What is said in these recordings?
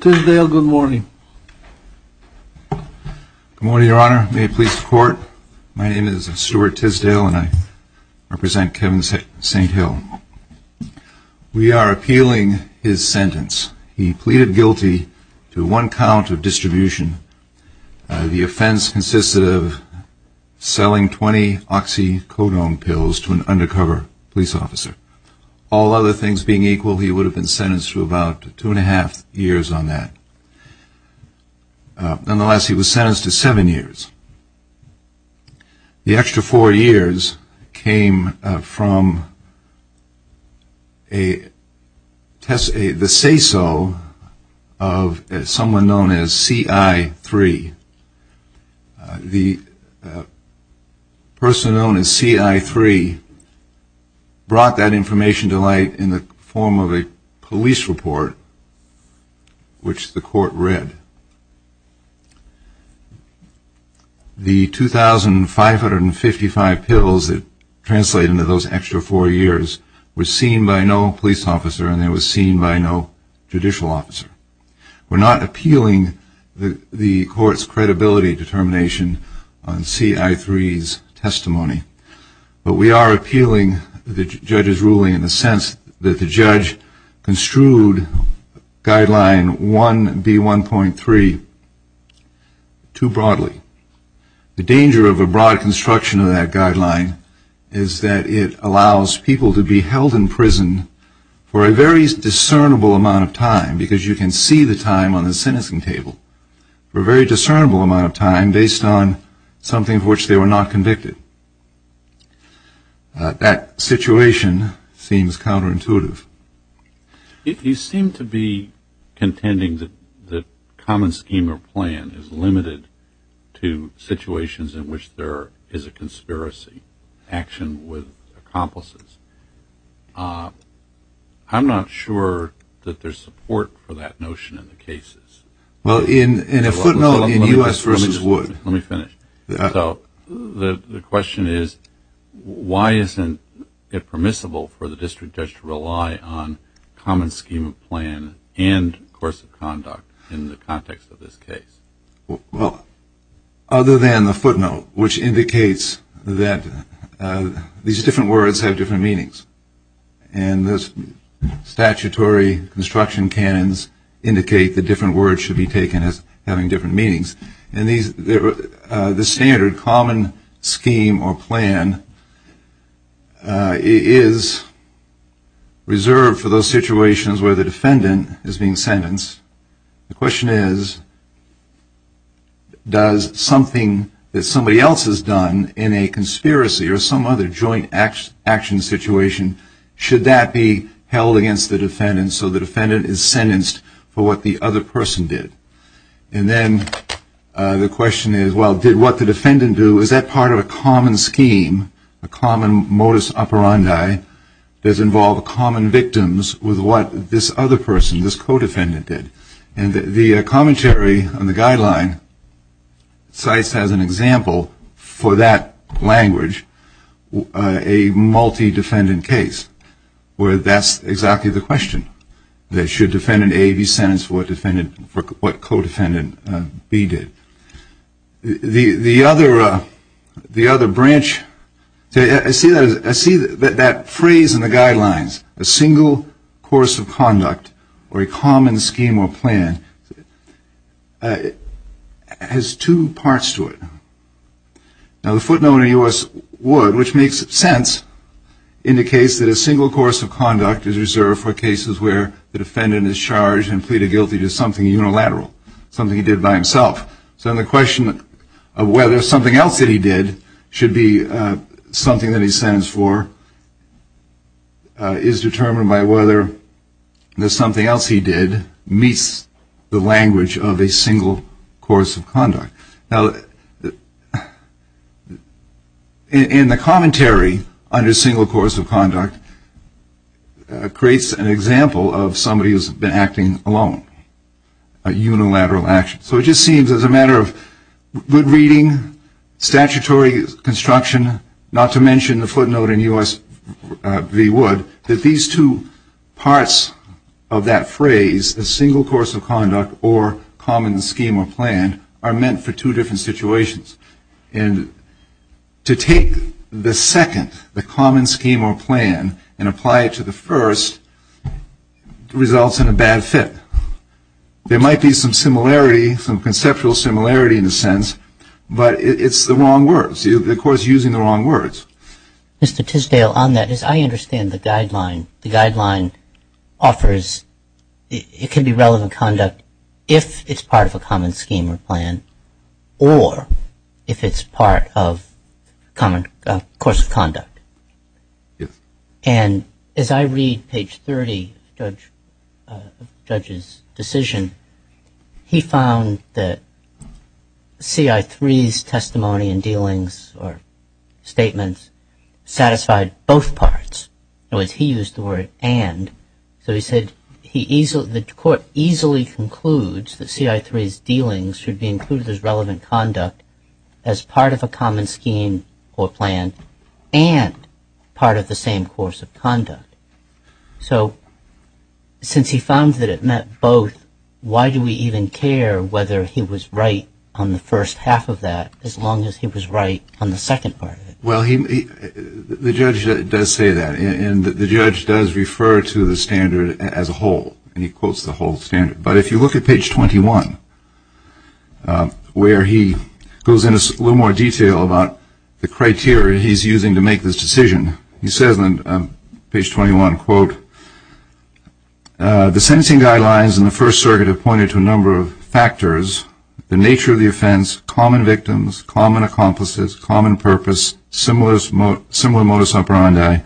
Good morning, Your Honor. May it please the Court, my name is Stuart Tisdale and I represent Kevin St. Hill. We are appealing his sentence. He pleaded guilty to one count of distribution. The offense consisted of selling 20 oxycodone pills to an undercover police officer. All other things being equal, he would have been sentenced to about two and a half years on that. Nonetheless, he was sentenced to seven years. The extra four years came from the say-so of someone known as CI3. The person known as CI3 brought that information to light in the form of a police report which the Court read. The 2,555 pills that translate into those extra four years were seen by no police officer and they were seen by no judicial officer. We're not appealing the Court's credibility determination on CI3's testimony, but we are appealing the judge's ruling in the sense that the judge construed Guideline 1B1.3 too broadly. The danger of a broad construction of that guideline is that it allows people to be held in prison for a very discernible amount of time because you can see the time on the sentencing table, for a very discernible amount of time based on something for which they were not convicted. That situation seems counterintuitive. You seem to be contending that the common scheme or plan is limited to situations in which there is a conspiracy, action with accomplices. I'm not sure that there's support for that notion in the cases. Well, in a footnote in U.S. v. Wood, the question is why isn't it permissible for the district judge to rely on common scheme of plan and course of conduct in the context of this case? Well, other than the footnote, which indicates that these different words have different meanings. And the statutory construction canons indicate that different words should be taken as having different meanings. And the standard common scheme or plan is reserved for those situations where the defendant is being sentenced. The question is, does something that somebody else has done in a conspiracy or some other joint action situation, should that be held against the defendant so the defendant is sentenced for what the other person did? And then the question is, well, did what the defendant do, is that part of a common scheme, a common modus operandi, does involve common victims with what this other person, this co-defendant did? And the commentary on the guideline cites as an example for that language a multi-defendant case where that's exactly the question. That should defendant A be sentenced for what co-defendant B did? The other branch, I see that phrase in the guidelines, a single course of conduct or a common scheme or plan, has two parts to it. Now the footnote in U.S. Wood, which makes sense, indicates that a single course of conduct is reserved for cases where the defendant is charged and pleaded guilty to something unilateral, something he did by himself. So the question of whether something else that he did should be something that he's sentenced for is determined by whether the something else he did meets the language of a single course of conduct. Now in the commentary under single course of conduct creates an example of somebody who's been acting alone, a unilateral action. So it just seems as a matter of good reading, statutory construction, not to mention the footnote in U.S. v. Wood, that these two parts of that phrase, a single course of conduct or common scheme or plan, are meant for two different situations. And to take the second, the common scheme or plan, and apply it to the first results in a bad fit. There might be some similarity, some conceptual similarity in a sense, but it's the wrong words. The court's using the wrong words. Mr. Tisdale, on that, as I understand the guideline, the guideline offers it can be relevant conduct if it's part of a common decision, he found that C.I.3's testimony and dealings or statements satisfied both parts. In other words, he used the word and. So he said he easily, the court easily concludes that C.I.3's dealings should be included as relevant conduct as part of a common Why do we even care whether he was right on the first half of that as long as he was right on the second part of it? Well, the judge does say that, and the judge does refer to the standard as a whole, and he quotes the whole standard. But if you look at page 21, where he goes into a little more detail about the criteria he's using to make this decision, he says on page 21, quote, the sentencing guidelines in the First Circuit have pointed to a number of factors, the nature of the offense, common victims, common accomplices, common purpose, similar modus operandi.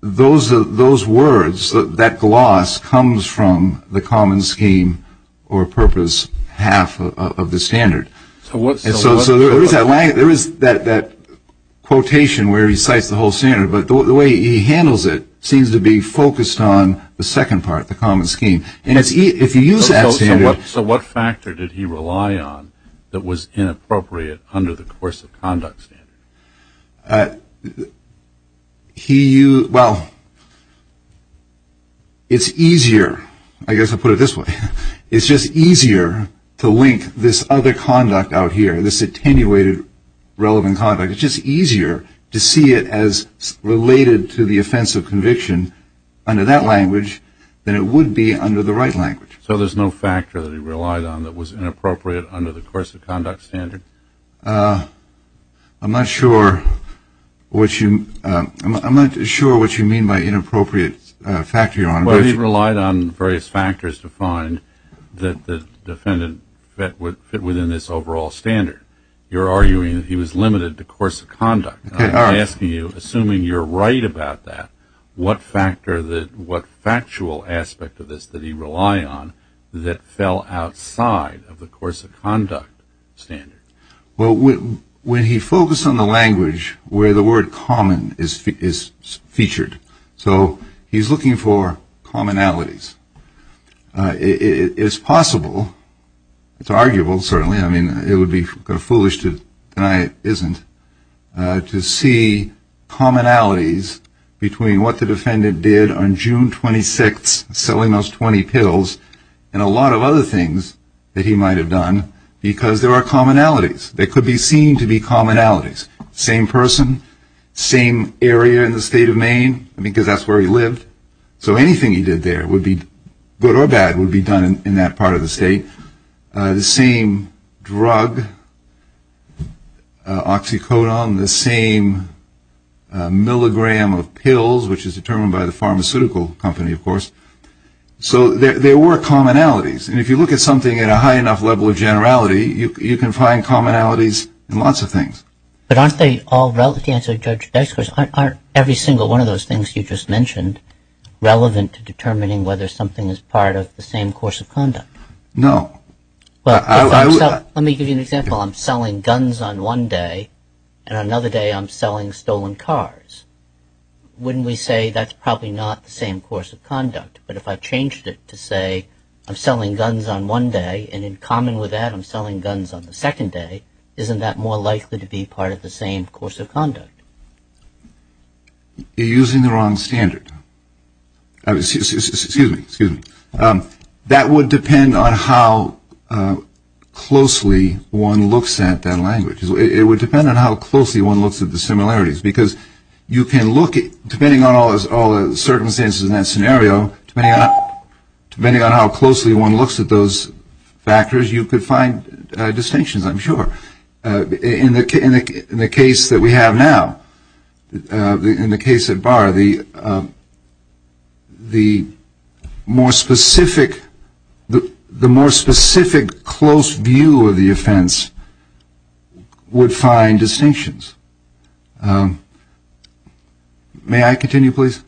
Those are those words that gloss comes from the common scheme or purpose, half of the standard. So there is that line, there is that quotation where he cites the whole standard, but the way he handles it seems to be focused on the second part, the common scheme. And if you use that standard So what factor did he rely on that was inappropriate under the course of conduct standard? Well, it's easier, I guess I'll put it this way, it's just easier to link this other conduct out here, this attenuated relevant conduct, it's just easier to see it as related to the offense of conviction under that language than it would be under the right language. So there's no factor that he relied on that was inappropriate under the course of conduct standard? I'm not sure what you, I'm not sure what you mean by inappropriate factor, Your Honor. Well, he relied on various factors to find that the defendant fit within this overall standard. You're arguing that he was limited to course of conduct. I'm asking you, assuming you're right about that, what factor, what factual aspect of this did he rely on that fell outside of the course of conduct standard? Well, when he focused on the language where the word common is featured, so he's looking for commonalities. It is possible, it's arguable, certainly, I mean, it would be foolish to deny it isn't, to see commonalities between what the defendant did on June 26th, selling those 20 pills, and a lot of other things that he might have done because there are commonalities. They could be seen to be commonalities. Same person, same area in the state of Maine, because that's where he lived. So anything he did there would be, good or bad, would be done in that part of the state. The same drug, oxycodone, the same milligram of pills, which is determined by the pharmaceutical company, of course, so there were commonalities. And if you look at something at a high enough level of generality, you can find commonalities in lots of things. But aren't they all, to answer Judge Dysker's, aren't every single one of those things you just mentioned relevant to determining whether something is part of the same course of conduct? No. Well, let me give you an example. I'm selling guns on one day, and on another day I'm selling stolen cars. Wouldn't we say that's probably not the same course of conduct? But if I changed it to say I'm selling guns on one day, and in common with that I'm selling guns on the second day, isn't that more likely to be part of the same course of conduct? You're using the wrong standard. Excuse me, excuse me. That would depend on how closely one looks at that language. It would depend on how closely one looks at the similarities, because you can look at, depending on all the circumstances in that scenario, depending on how closely one looks at those factors, you could find distinctions, I'm sure. In the case that we have now, in the case of Barr, the more specific, the more specific close view of the offense would find distinctions. May I continue, please?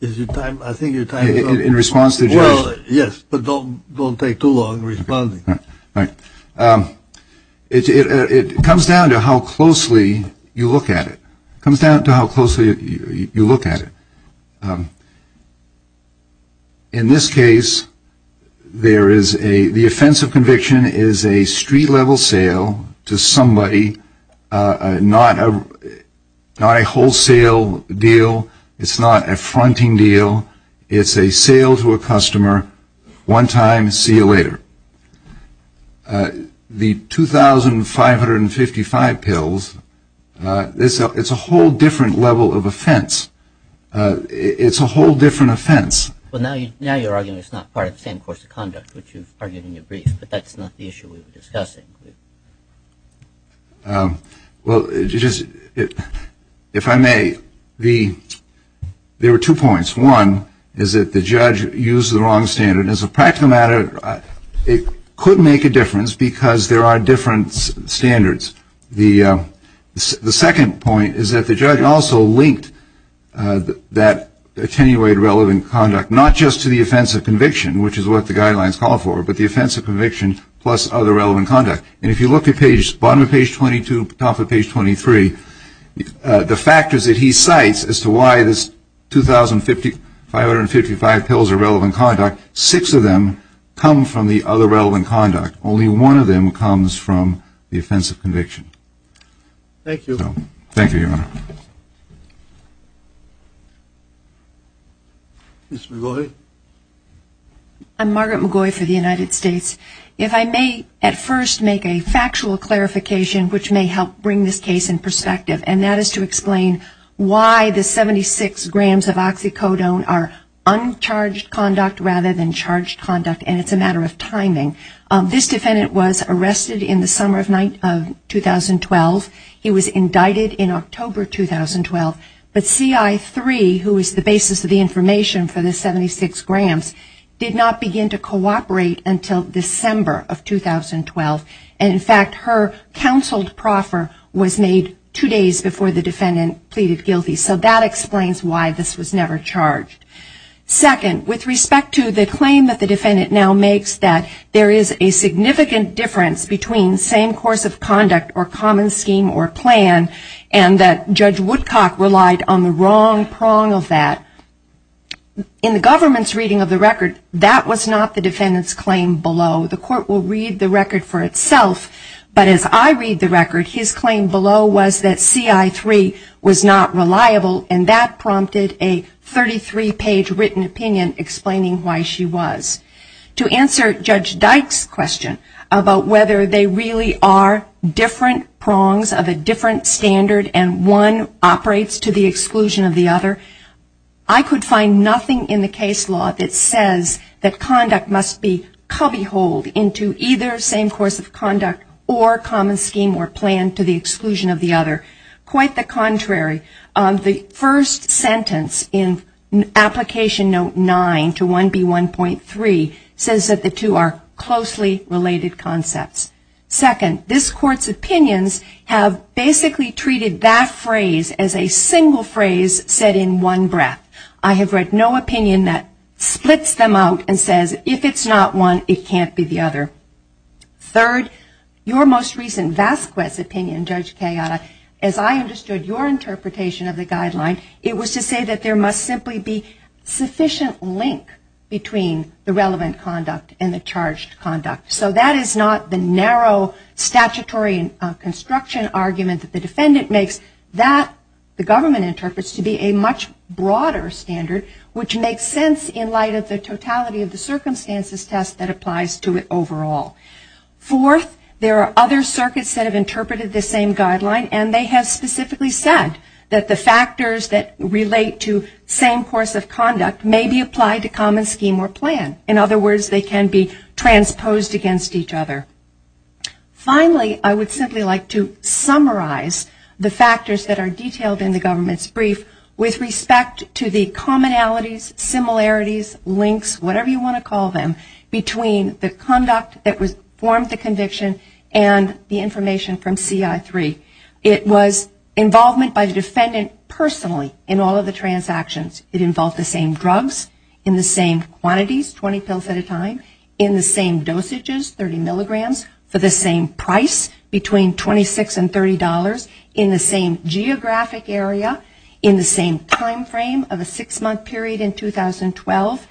Is your time, I think your time is up. In response to Judge... Well, yes, but don't take too long responding. All right. It comes down to how closely you look at it. It comes down to how closely you look at it. In this case, the offense of conviction is a street-level sale to somebody, not a wholesale deal. It's not a fronting deal. It's a sale to a customer, one time, see you later. The 2,555 pills, it's a whole different level of offense. It's a whole different offense. Well, now you're arguing it's not part of the same course of conduct, which you've argued in your brief, but that's not the issue we were discussing. Well, if I may, there were two points. One is that the judge used the wrong standard. As a practical matter, it could make a difference because there are different standards. The second point is that the judge also linked that attenuated relevant conduct, not just to the offense of conviction, which is what the guidelines call for, but the offense of conviction plus other relevant conduct. And if you look at bottom of page 22, top of page 23, the factors that he cites as to why this 2,555 pills are relevant conduct, six of them come from the other relevant conduct. Only one of them comes from the offense of conviction. Thank you. Thank you, Your Honor. Ms. McGaughy. I'm Margaret McGaughy for the United States. If I may at first make a factual clarification, which may help bring this case in perspective, and that is to explain why the 76 grams of oxycodone are uncharged conduct rather than charged conduct, and it's a matter of timing. This defendant was arrested in the summer of 2012. He was indicted in October 2012. But CI3, who is the basis of the information for the 76 grams, did not begin to cooperate until December of 2012. And, in fact, her counseled proffer was made two days before the defendant pleaded guilty. So that explains why this was never charged. Second, with respect to the claim that the defendant now makes that there is a significant difference between same course of conduct or common scheme or plan, and that Judge Woodcock relied on the wrong prong of that, in the government's reading of the record, that was not the defendant's claim below. The court will read the record for itself. But as I read the record, his claim below was that CI3 was not reliable, and that prompted a 33-page written opinion explaining why she was. To answer Judge Dyke's question about whether they really are different prongs of a different standard and one operates to the exclusion of the other, I could find nothing in the case law that says that conduct must be cubby-holed into either same course of conduct or common scheme or plan to the exclusion of the other. Quite the contrary. The first sentence in Application Note 9 to 1B1.3 says that the two are closely related concepts. Second, this court's opinions have basically treated that phrase as a single phrase said in one breath. I have read no opinion that splits them out and says, if it's not one, it can't be the other. Third, your most recent Vasquez opinion, Judge Kayada, as I understood your interpretation of the guideline, it was to say that there must simply be sufficient link between the relevant conduct and the charged conduct. So that is not the narrow statutory construction argument that the defendant makes. That, the government interprets to be a much broader standard, which makes sense in light of the totality of the circumstances test that applies to it overall. Fourth, there are other circuits that have interpreted this same guideline and they have specifically said that the factors that relate to same course of conduct may be applied to common scheme or plan. In other words, they can be transposed against each other. Finally, I would simply like to summarize the factors that are detailed in the government's brief with respect to the commonalities, similarities, links, whatever you want to call them, between the conduct that formed the conviction and the information from CI3. It was involvement by the defendant personally in all of the transactions. It involved the same drugs in the same quantities, 20 pills at a time, in the same dosages, 30 milligrams, for the same price, between $26 and $30, in the same geographic area, in the same time frame of a six-month period in 2012,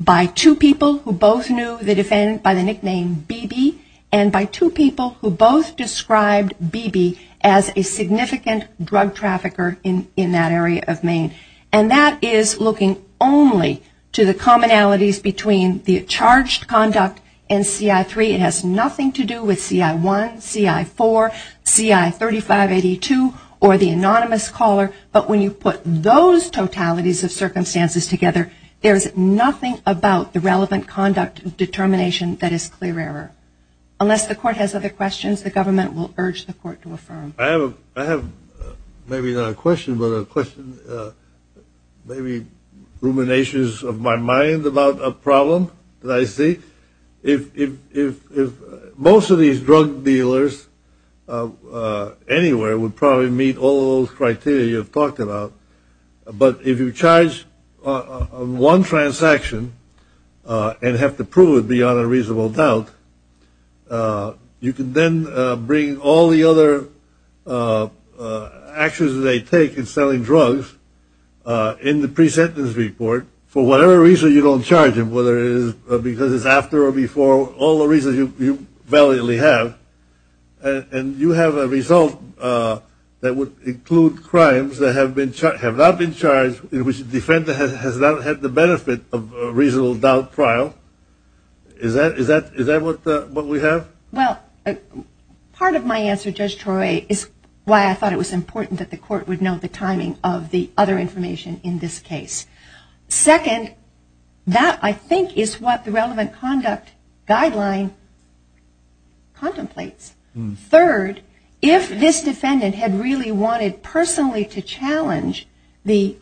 by two people who both knew the defendant by the nickname BB, and by two people who both described BB as a significant drug trafficker in that area of Maine. And that is looking only to the commonalities between the charged conduct and CI3. It has nothing to do with CI1, CI4, CI3582, or the anonymous caller. But when you put those totalities of circumstances together, there is nothing about the relevant conduct determination that is clear error. Unless the court has other questions, the government will urge the court to affirm. I have maybe not a question, but a question, maybe ruminations of my mind about a problem that I see. If most of these drug dealers anywhere would probably meet all those criteria you've talked about, but if you charge one transaction and have to prove it beyond a reasonable doubt, you can then bring all the other actions they take in selling drugs in the pre-sentence report, for whatever reason you don't charge them, whether it is because it's after or before, all the reasons you validly have, and you have a result that would include crimes that have not been charged, in which the defendant has not had the benefit of a reasonable doubt trial. Is that what we have? Well, part of my answer, Judge Troy, is why I thought it was important that the court would know the timing of the other information in this case. Second, that, I think, is what the relevant conduct guideline contemplates. Third, if this defendant had really wanted personally to challenge the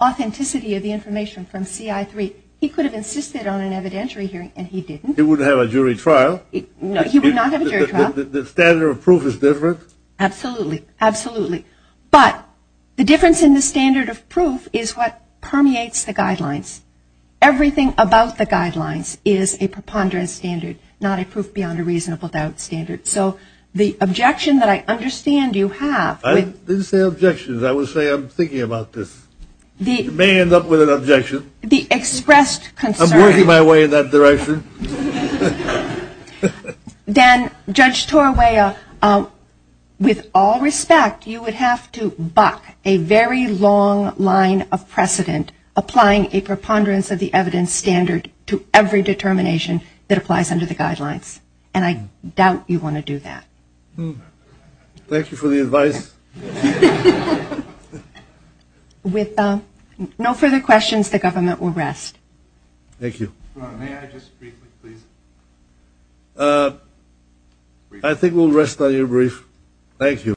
authenticity of the information from CI3, he could have insisted on an evidentiary hearing, and he didn't. He wouldn't have a jury trial. He would not have a jury trial. The standard of proof is different? Absolutely. Absolutely. But the difference in the standard of proof is what permeates the guidelines. Everything about the guidelines is a preponderance standard, not a proof beyond a reasonable doubt standard. So the objection that I understand you have – I didn't say objections. I was saying I'm thinking about this. You may end up with an objection. The expressed concern – I'm working my way in that direction. Dan, Judge Torwaya, with all respect, you would have to buck a very long line of precedent applying a preponderance of the evidence standard to every determination that applies under the guidelines, and I doubt you want to do that. Thank you for the advice. With no further questions, the government will rest. Thank you. May I just briefly, please? I think we'll rest on your brief. Thank you.